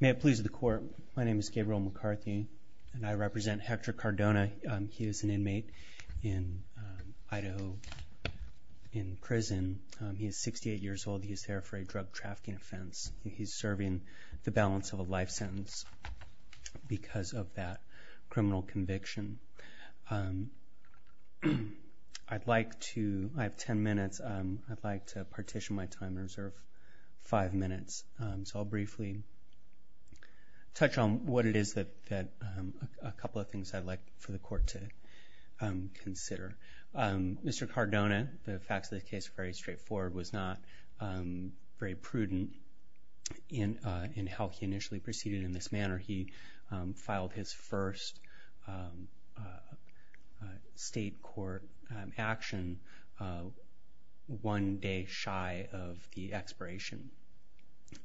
May it please the court. My name is Gabriel McCarthy and I represent Hector Cardona. He is an inmate in Idaho in prison. He is 68 years old. He is there for a drug trafficking offense. He is serving the balance of a life sentence because of that criminal conviction. I'd like to, I have ten minutes, I'd like to partition my time and reserve five minutes. So I'll briefly touch on what it is that a couple of things I'd like for the court to consider. Mr. Cardona, the facts of the case are very straightforward, was not very prudent in how he initially proceeded in this manner. He filed his first state court action one day shy of the expiration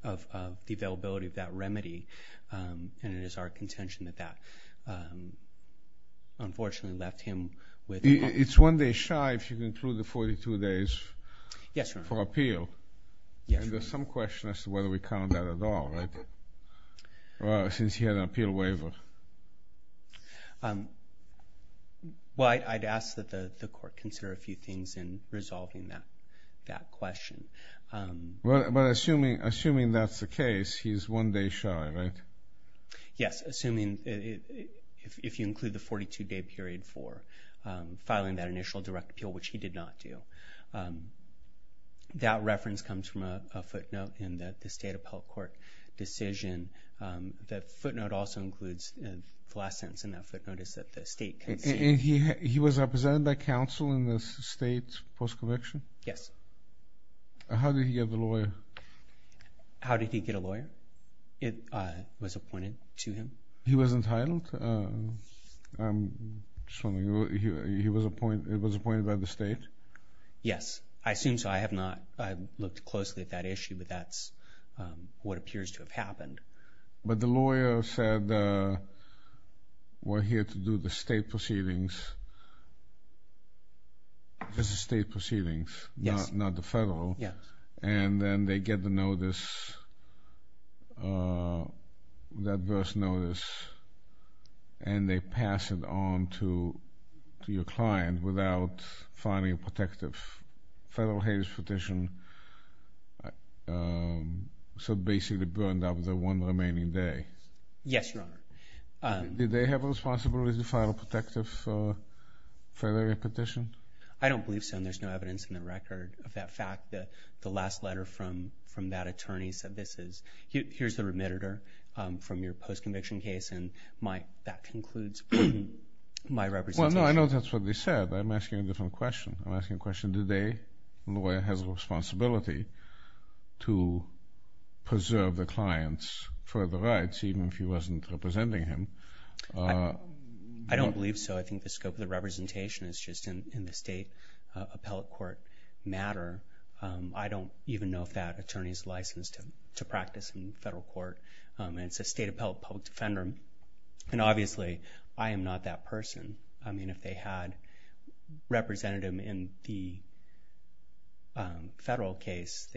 of the availability of that remedy. And it is our contention that that unfortunately left him with... It's one day shy if you include the 42 days for appeal? Yes, Your Honor. And there's some question as to whether we count that at all, right? Well, since he had an appeal waiver. Well, I'd ask that the court consider a few things in resolving that question. Well, but assuming that's the case, he's one day shy, right? Yes, assuming if you include the 42-day period for filing that initial direct appeal, which he did not do. That reference comes from a footnote in the state appellate court decision. That footnote also includes, the last sentence in that footnote is that the state... And he was represented by counsel in the state post-conviction? Yes. How did he get the lawyer? How did he get a lawyer? It was appointed to him? He was entitled? It was appointed by the state? Yes. I assume so. I have not looked closely at that issue, but that's what appears to have happened. But the lawyer said, we're here to do the state proceedings. This is state proceedings, not the federal. Yes. And then they get the notice, that first notice, and they pass it on to your client without filing a protective federal hades petition, so basically burned up the one remaining day? Yes, Your Honor. Did they have a responsibility to file a protective federal hades petition? I don't believe so, and there's no evidence in the record of that fact. The last letter from that attorney said, here's the remitter from your post-conviction case, and that concludes my representation. Well, no, I know that's what they said, but I'm asking a different question. I'm asking a question, does the lawyer have a responsibility to preserve the client's further rights, even if he wasn't representing him? I don't believe so. I think the scope of the representation is just in the state appellate court matter. I don't even know if that attorney is licensed to practice in federal court. It's a state appellate public defender, and obviously, I am not that person. I mean, if they had represented him in the federal case,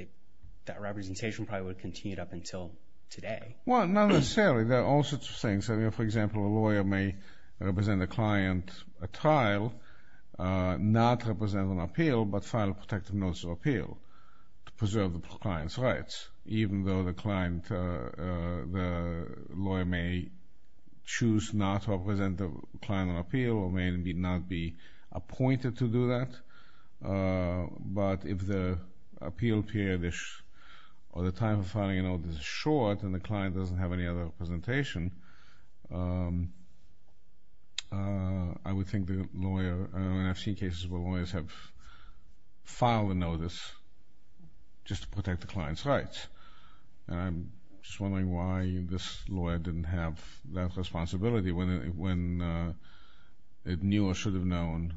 that representation probably would have continued up until today. Well, not necessarily. There are all sorts of things. I mean, for example, a lawyer may represent a client at trial, not represent on appeal, but file a protective notice of appeal to preserve the client's rights, even though the client, the lawyer may choose not to represent the client on appeal or may not be appointed to do that. But if the appeal period or the time of filing a notice is short and the client doesn't have any other representation, I would think the lawyer, and I've seen cases where lawyers have filed a notice just to protect the client's rights. And I'm just wondering why this lawyer didn't have that responsibility when it knew or should have known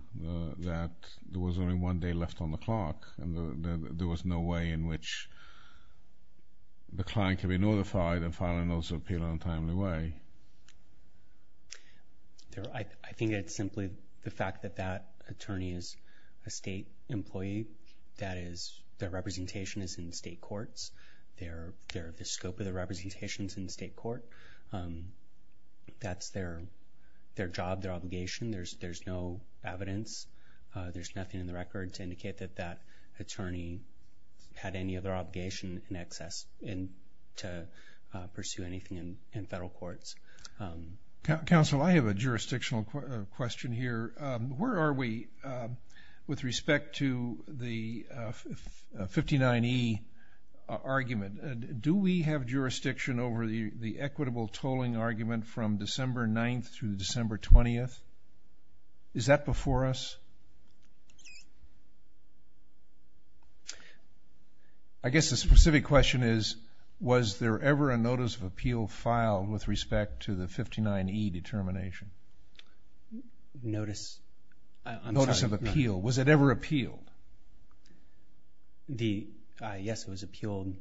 that there was only one day left on the clock and there was no way in which the client could be notified and file a notice of appeal in a timely way. I think it's simply the fact that that attorney is a state employee. That is, their representation is in state courts. The scope of their representation is in state court. That's their job, their obligation. There's no evidence. There's nothing in the record to indicate that that attorney had any other obligation in excess to pursue anything in federal courts. Counsel, I have a jurisdictional question here. Where are we with respect to the 59E argument? Do we have jurisdiction over the equitable tolling argument from December 9th through December 20th? Is that before us? I guess the specific question is, was there ever a notice of appeal filed with respect to the 59E determination? Notice? I'm sorry. Notice of appeal. Was it ever appealed? Yes, it was appealed.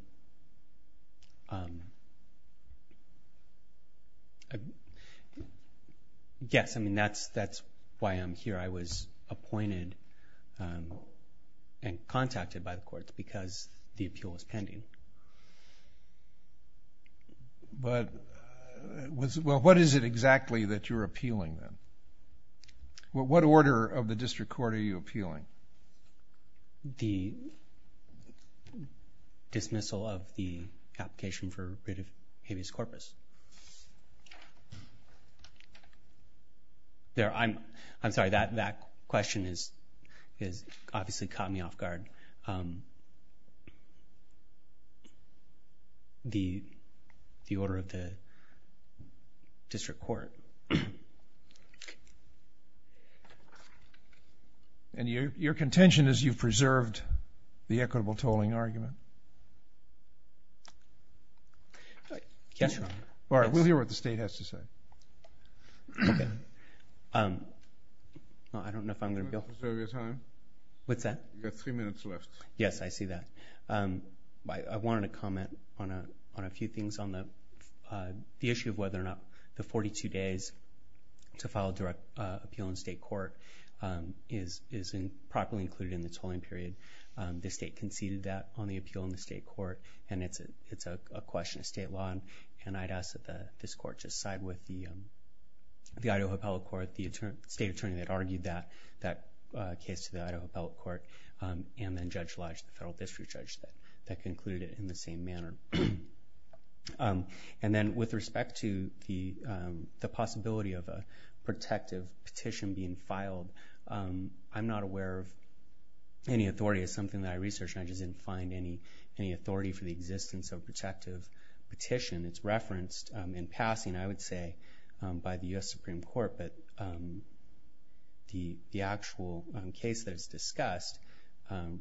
Yes, that's why I'm here. I was appointed and contacted by the courts because the appeal was pending. What is it exactly that you're appealing then? What order of the district court are you appealing? The dismissal of the application for writ of habeas corpus. I'm sorry, that question has obviously caught me off guard. The order of the district court. And your contention is you've preserved the equitable tolling argument? Yes, Your Honor. All right, we'll hear what the state has to say. Okay. I don't know if I'm going to be able to. Do you want to preserve your time? What's that? You have three minutes left. Yes, I see that. I wanted to comment on a few things on the issue of whether or not the 42 days to file a direct appeal in state court is properly included in the tolling period. The state conceded that on the appeal in the state court, and it's a question of state law. And I'd ask that this court just side with the Idaho appellate court, the state attorney that argued that case to the Idaho appellate court, and then Judge Lodge, the federal district judge, that concluded it in the same manner. And then with respect to the possibility of a protective petition being filed, I'm not aware of any authority. It's something that I researched, and I just didn't find any authority for the existence of a protective petition. It's referenced in passing, I would say, by the U.S. Supreme Court, but the actual case that's discussed,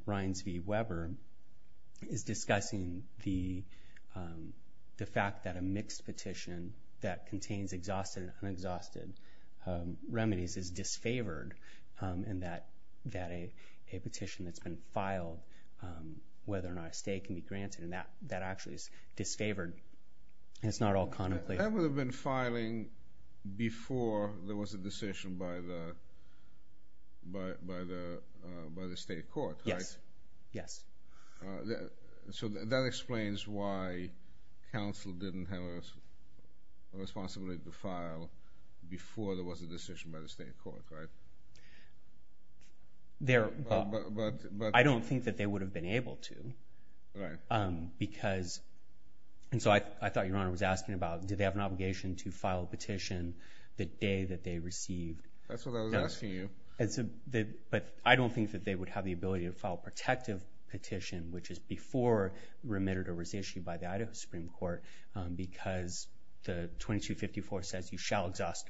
Ryans v. Weber, is discussing the fact that a mixed petition that contains exhausted and unexhausted remedies is disfavored, and that a petition that's been filed, whether or not a stay can be granted, and that actually is disfavored. It's not all contemplated. That would have been filing before there was a decision by the state court, right? Yes, yes. So that explains why counsel didn't have a responsibility to file before there was a decision by the state court, right? I don't think that they would have been able to. Right. Because—and so I thought Your Honor was asking about, did they have an obligation to file a petition the day that they received— That's what I was asking you. But I don't think that they would have the ability to file a protective petition, which is before remediator was issued by the Idaho Supreme Court, because the 2254 says you shall exhaust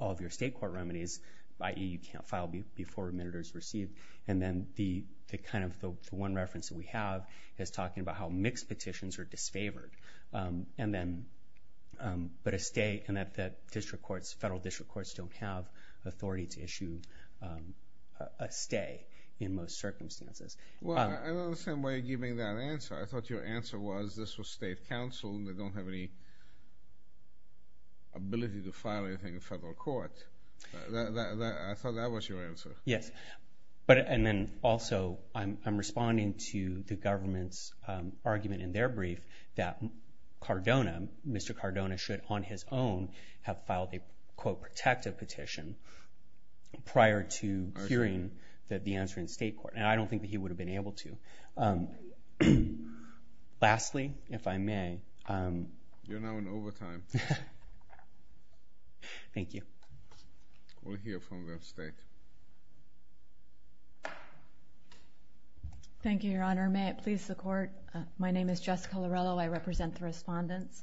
all of your state court remedies, i.e. you can't file before remediator is received. And then the kind of the one reference that we have is talking about how mixed petitions are disfavored. And then—but a stay—and that the district courts, federal district courts, don't have authority to issue a stay in most circumstances. Well, I don't understand why you're giving that answer. I thought your answer was this was state counsel and they don't have any ability to file anything in federal court. I thought that was your answer. Yes. But—and then also I'm responding to the government's argument in their brief that Cardona, Mr. Cardona, should on his own have filed a, quote, protective petition prior to hearing the answer in state court. And I don't think that he would have been able to. Lastly, if I may— You're now in overtime. Thank you. We'll hear from the state. Thank you, Your Honor. May it please the Court, my name is Jessica Lorello. I represent the respondents.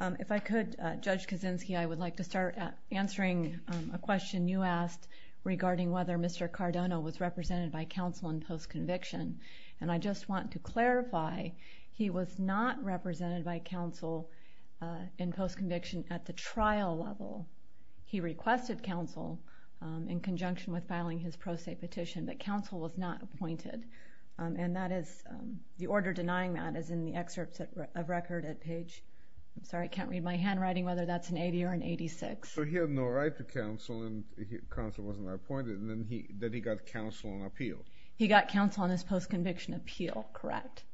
If I could, Judge Kaczynski, I would like to start answering a question you asked regarding whether Mr. Cardona was represented by counsel in postconviction. And I just want to clarify, he was not represented by counsel in postconviction at the trial level. He requested counsel in conjunction with filing his pro se petition, but counsel was not appointed. And that is—the order denying that is in the excerpts of record at page—I'm sorry, I can't read my handwriting, whether that's an 80 or an 86. So he had no right to counsel and counsel wasn't appointed, and then he—then he got counsel on appeal. He got counsel on his postconviction appeal, correct.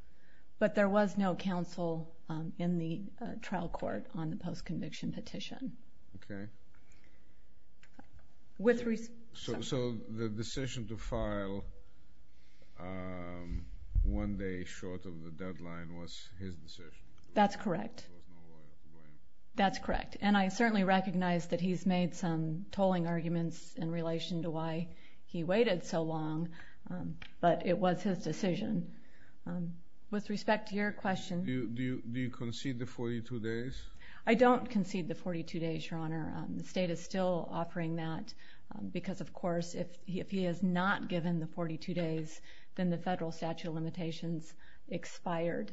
But there was no counsel in the trial court on the postconviction petition. Okay. So the decision to file one day short of the deadline was his decision? That's correct. That's correct. And I certainly recognize that he's made some tolling arguments in relation to why he waited so long, but it was his decision. With respect to your question— Do you concede the 42 days? I don't concede the 42 days, Your Honor. The state is still offering that because, of course, if he is not given the 42 days, then the federal statute of limitations expired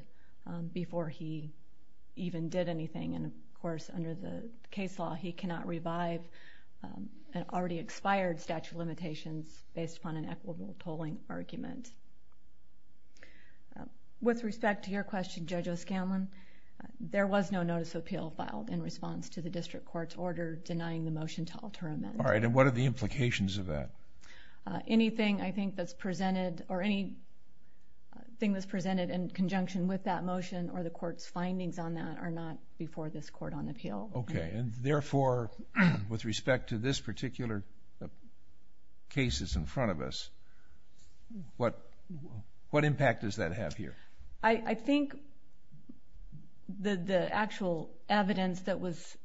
before he even did anything. And, of course, under the case law, he cannot revive an already expired statute of limitations based upon an equitable tolling argument. With respect to your question, Judge O'Scanlan, there was no notice of appeal filed in response to the district court's order denying the motion to alter amends. All right. And what are the implications of that? Anything, I think, that's presented—or anything that's presented in conjunction with that motion or the court's findings on that are not before this court on appeal. Okay. And, therefore, with respect to this particular case that's in front of us, what impact does that have here? I think the actual evidence that was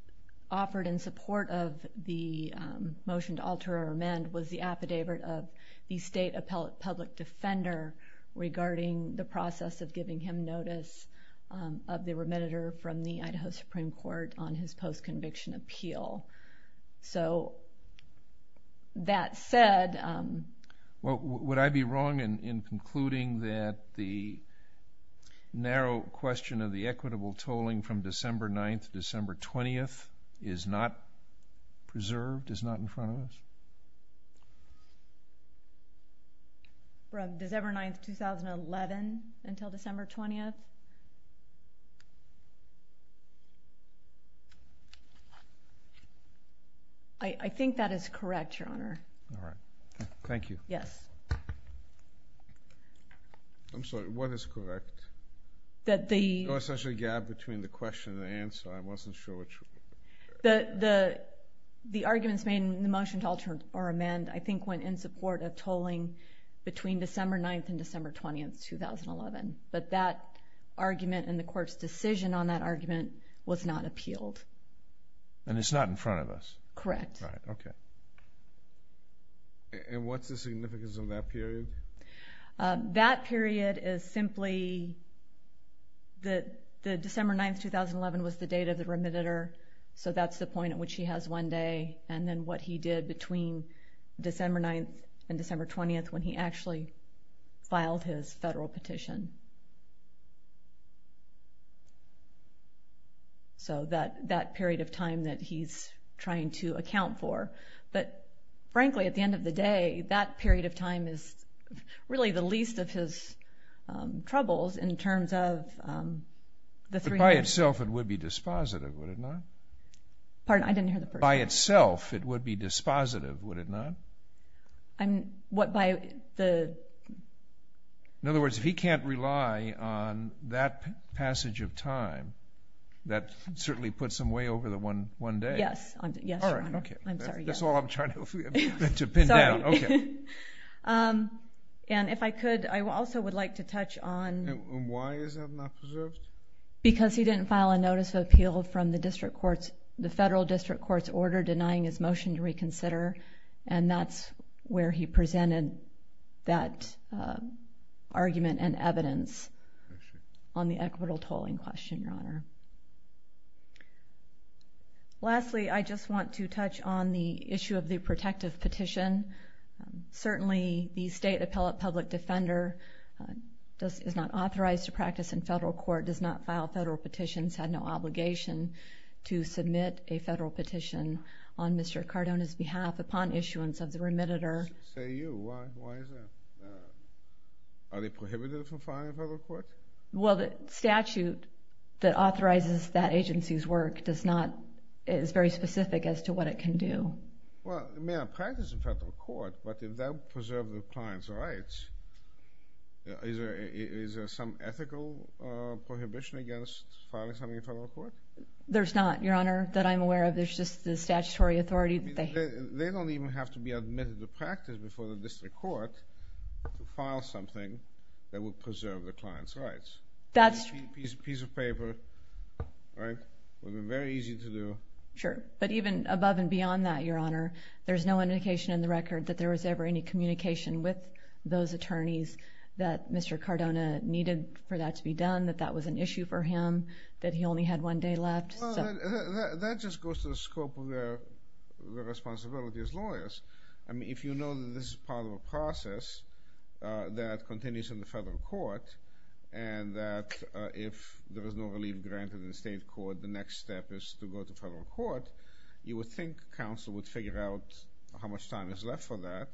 offered in support of the motion to alter or amend was the affidavit of the state public defender regarding the process of giving him notice of the remitter from the Idaho Supreme Court on his post-conviction appeal. So, that said— Well, would I be wrong in concluding that the narrow question of the equitable tolling from December 9th to December 20th is not preserved, is not in front of us? From December 9th, 2011 until December 20th? I think that is correct, Your Honor. All right. Thank you. Yes. I'm sorry. What is correct? That the— There was essentially a gap between the question and the answer. I wasn't sure which— The arguments made in the motion to alter or amend, I think, went in support of tolling between December 9th and December 20th, 2011. But that argument and the court's decision on that argument was not appealed. And it's not in front of us? Correct. All right. Okay. And what's the significance of that period? That period is simply that the December 9th, 2011 was the date of the remitter, so that's the point at which he has one day, and then what he did between December 9th and December 20th when he actually filed his federal petition. So that period of time that he's trying to account for. But, frankly, at the end of the day, that period of time is really the least of his troubles in terms of the three— But by itself, it would be dispositive, would it not? Pardon? I didn't hear the first part. By itself, it would be dispositive, would it not? I mean, what by the— In other words, if he can't rely on that passage of time, that certainly puts him way over the one day. Yes, Your Honor. All right, okay. I'm sorry. That's all I'm trying to pin down. Sorry. Okay. And if I could, I also would like to touch on— And why is that not preserved? Because he didn't file a notice of appeal from the federal district court's order denying his motion to reconsider, and that's where he presented that argument and evidence on the equitable tolling question, Your Honor. Lastly, I just want to touch on the issue of the protective petition. Certainly, the state appellate public defender is not authorized to practice in federal court, does not file federal petitions, had no obligation to submit a federal petition on Mr. Cardona's behalf upon issuance of the remitter. Say you. Why is that? Are they prohibited from filing in federal court? Well, the statute that authorizes that agency's work is very specific as to what it can do. Well, it may not practice in federal court, but if that would preserve the client's rights, is there some ethical prohibition against filing something in federal court? There's not, Your Honor, that I'm aware of. There's just the statutory authority. They don't even have to be admitted to practice before the district court to file something that would preserve the client's rights. That's— A piece of paper, right, would be very easy to do. Sure. But even above and beyond that, Your Honor, there's no indication in the record that there was ever any communication with those attorneys that Mr. Cardona needed for that to be done, that that was an issue for him, that he only had one day left. Well, that just goes to the scope of their responsibility as lawyers. I mean, if you know that this is part of a process that continues in the federal court and that if there is no relief granted in the state court, the next step is to go to federal court, you would think counsel would figure out how much time is left for that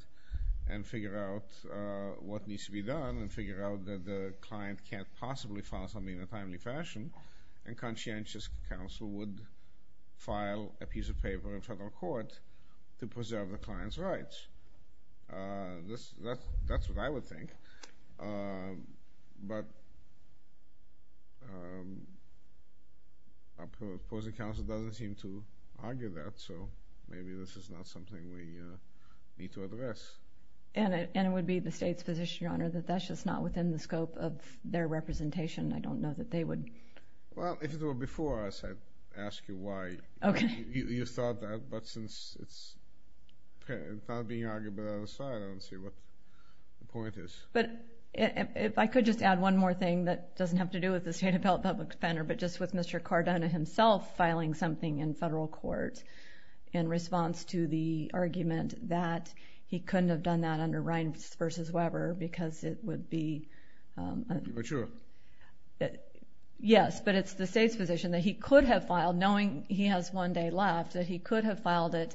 and figure out what needs to be done and figure out that the client can't possibly file something in a timely fashion, and conscientious counsel would file a piece of paper in federal court to preserve the client's rights. That's what I would think. But opposing counsel doesn't seem to argue that, so maybe this is not something we need to address. And it would be the state's position, Your Honor, that that's just not within the scope of their representation. I don't know that they would— Well, if it were before us, I'd ask you why you thought that. But since it's not being argued by the other side, I don't see what the point is. But if I could just add one more thing that doesn't have to do with the State Appellate Public Defender, but just with Mr. Cardona himself filing something in federal court in response to the argument that he couldn't have done that under Reince v. Weber because it would be— Mature. Yes, but it's the state's position that he could have filed, knowing he has one day left, that he could have filed it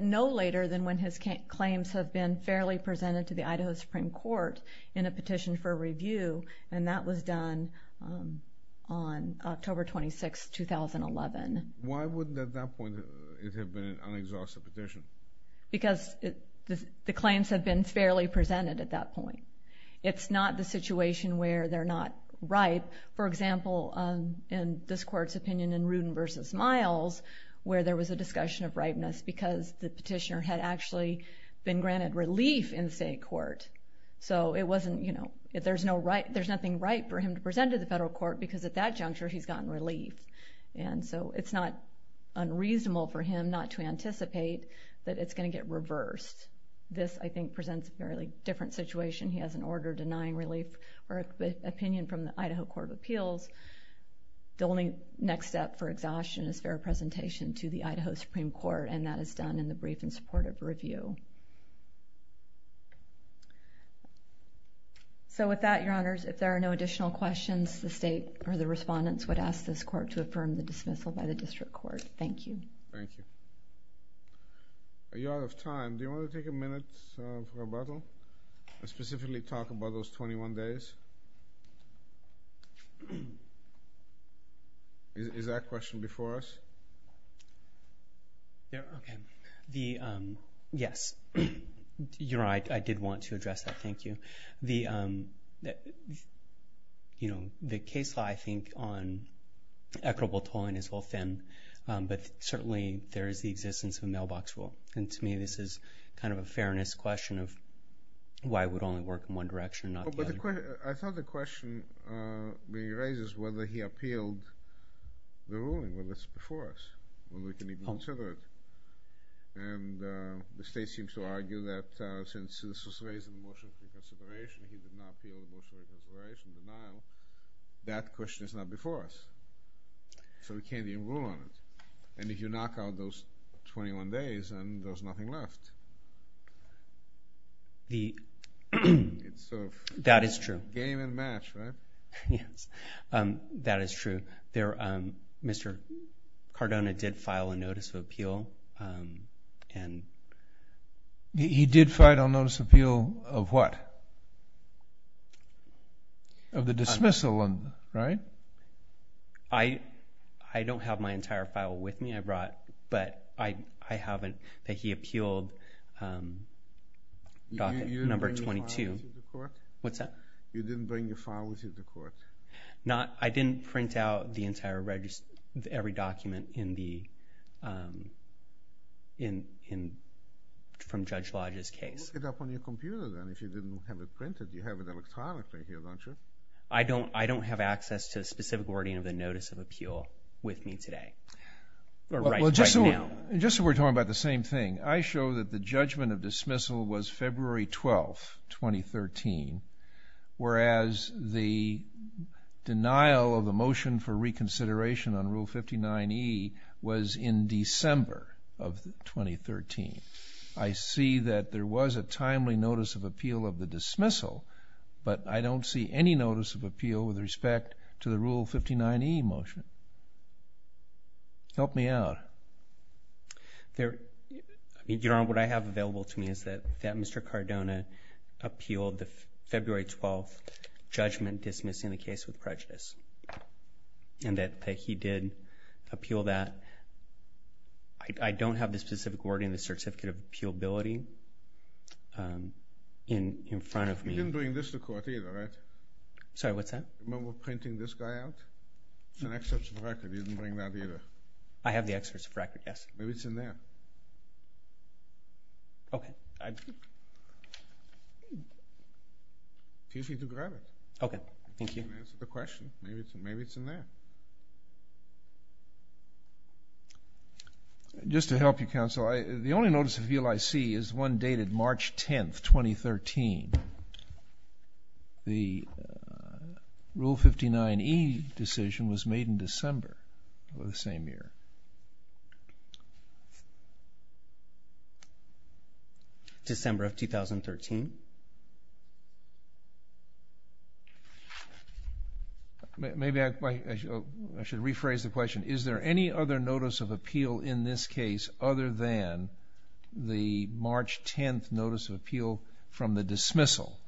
no later than when his claims have been fairly presented to the Idaho Supreme Court in a petition for review, and that was done on October 26, 2011. Why wouldn't, at that point, it have been an unexhausted petition? Because the claims have been fairly presented at that point. It's not the situation where they're not right. For example, in this court's opinion in Rudin v. Miles, where there was a discussion of rightness because the petitioner had actually been granted relief in the state court. So it wasn't, you know, there's nothing right for him to present to the federal court because at that juncture he's gotten relief. And so it's not unreasonable for him not to anticipate that it's going to get reversed. This, I think, presents a fairly different situation. He has an order denying relief or opinion from the Idaho Court of Appeals. The only next step for exhaustion is fair presentation to the Idaho Supreme Court, and that is done in the brief in support of review. So with that, Your Honors, if there are no additional questions, the state or the respondents would ask this court to affirm the dismissal by the district court. Thank you. Thank you. You're out of time. Do you want to take a minute for rebuttal and specifically talk about those 21 days? Is that question before us? Okay. Yes. Your Honor, I did want to address that. Thank you. You know, the case law, I think, on equitable tolling is well thin, but certainly there is the existence of a mailbox rule. And to me, this is kind of a fairness question of why it would only work in one direction and not the other. I thought the question being raised is whether he appealed the ruling, whether it's before us, whether we can even consider it. And the state seems to argue that since this was raised in the motion for consideration, he did not appeal the motion for consideration, denial. That question is not before us, so we can't even rule on it. And if you knock out those 21 days and there's nothing left. That is true. Game and match, right? Yes, that is true. Mr. Cardona did file a notice of appeal. He did file a notice of appeal of what? Of the dismissal, right? I don't have my entire file with me. I brought, but I haven't, that he appealed document number 22. You didn't bring your file with you to court? What's that? You didn't bring your file with you to court? I didn't print out the entire register, every document from Judge Lodge's case. Look it up on your computer, then, if you didn't have it printed. You have it electronically here, don't you? I don't have access to a specific wording of the notice of appeal with me today, or right now. Just so we're talking about the same thing, I show that the judgment of dismissal was February 12, 2013, whereas the denial of the motion for reconsideration on Rule 59E was in December of 2013. I see that there was a timely notice of appeal of the dismissal, but I don't see any notice of appeal with respect to the Rule 59E motion. Help me out. Your Honor, what I have available to me is that Mr. Cardona appealed the February 12 judgment dismissing the case with prejudice, and that he did appeal that. I don't have the specific wording of the certificate of appealability in front of me. You didn't bring this to court either, right? Sorry, what's that? Remember printing this guy out? It's an excerpt of the record. You didn't bring that either. I have the excerpt of the record, yes. Maybe it's in there. Okay. If you need to grab it. Okay, thank you. I didn't answer the question. Maybe it's in there. Just to help you, counsel, the only notice of appeal I see is one dated March 10, 2013. The Rule 59E decision was made in December of the same year. December of 2013. Maybe I should rephrase the question. Is there any other notice of appeal in this case other than the March 10 notice of appeal from the dismissal?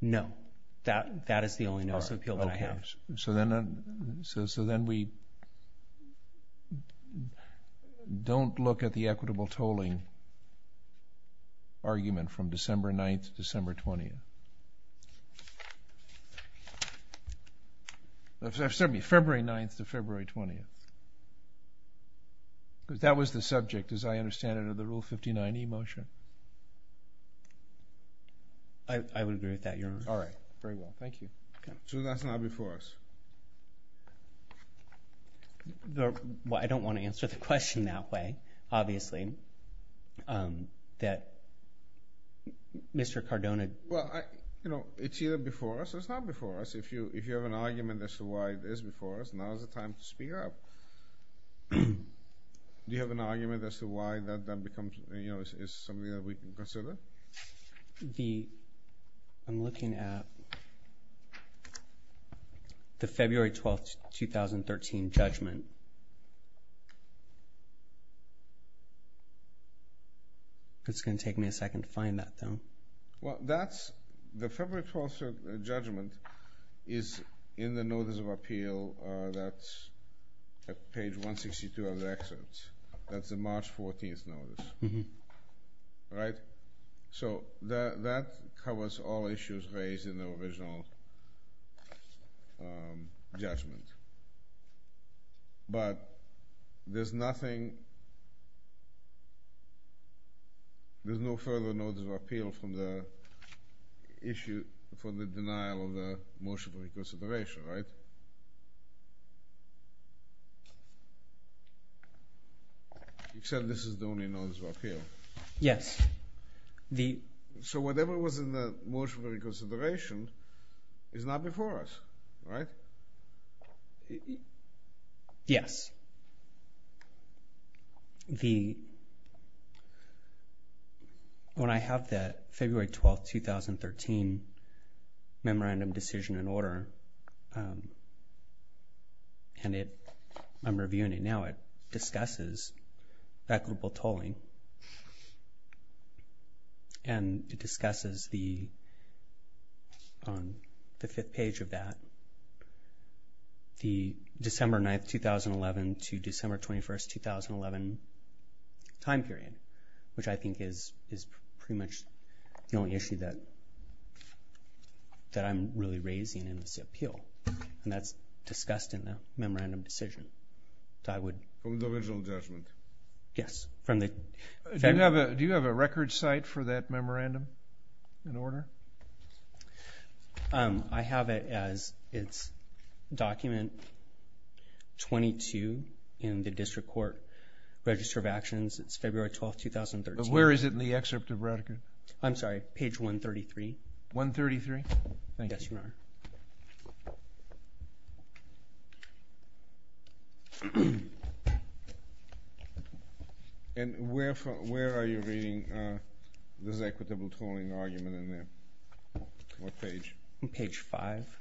No. That is the only notice of appeal that I have. Okay. So then we don't look at the equitable tolling argument from December 9th to December 20th. Excuse me, February 9th to February 20th. Because that was the subject, as I understand it, of the Rule 59E motion. I would agree with that, Your Honor. All right. Very well. Thank you. So that's not before us? Well, I don't want to answer the question that way, obviously, that Mr. Cardona— Well, it's either before us or it's not before us. If you have an argument as to why it is before us, now is the time to speak up. Do you have an argument as to why that becomes something that we can consider? I'm looking at the February 12th, 2013 judgment. It's going to take me a second to find that, though. Well, the February 12th judgment is in the notice of appeal at page 162 of the excerpt. That's the March 14th notice, right? So that covers all issues raised in the original judgment. But there's nothing—there's no further notice of appeal from the issue for the denial of the motion to reconsideration, right? Except this is the only notice of appeal. Yes. So whatever was in the motion of reconsideration is not before us, right? Yes. When I have that February 12th, 2013 memorandum decision in order, and I'm reviewing it now, it discusses equitable tolling. And it discusses the—on the fifth page of that, the December 9th, 2011 to December 21st, 2011 time period, which I think is pretty much the only issue that I'm really raising in this appeal. And that's discussed in the memorandum decision. So I would— From the original judgment? Yes, from the— I have it as—it's document 22 in the district court register of actions. It's February 12th, 2013. But where is it in the excerpt of Radeke? I'm sorry. Page 133. 133? Thank you. Yes, Your Honor. And where are you reading this equitable tolling argument in there? What page? Page 5. Page 5.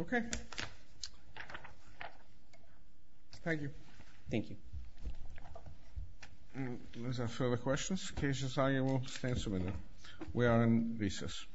Okay. Thank you. Thank you. Any further questions? In case there are any, we'll stand for a minute. We are in recess.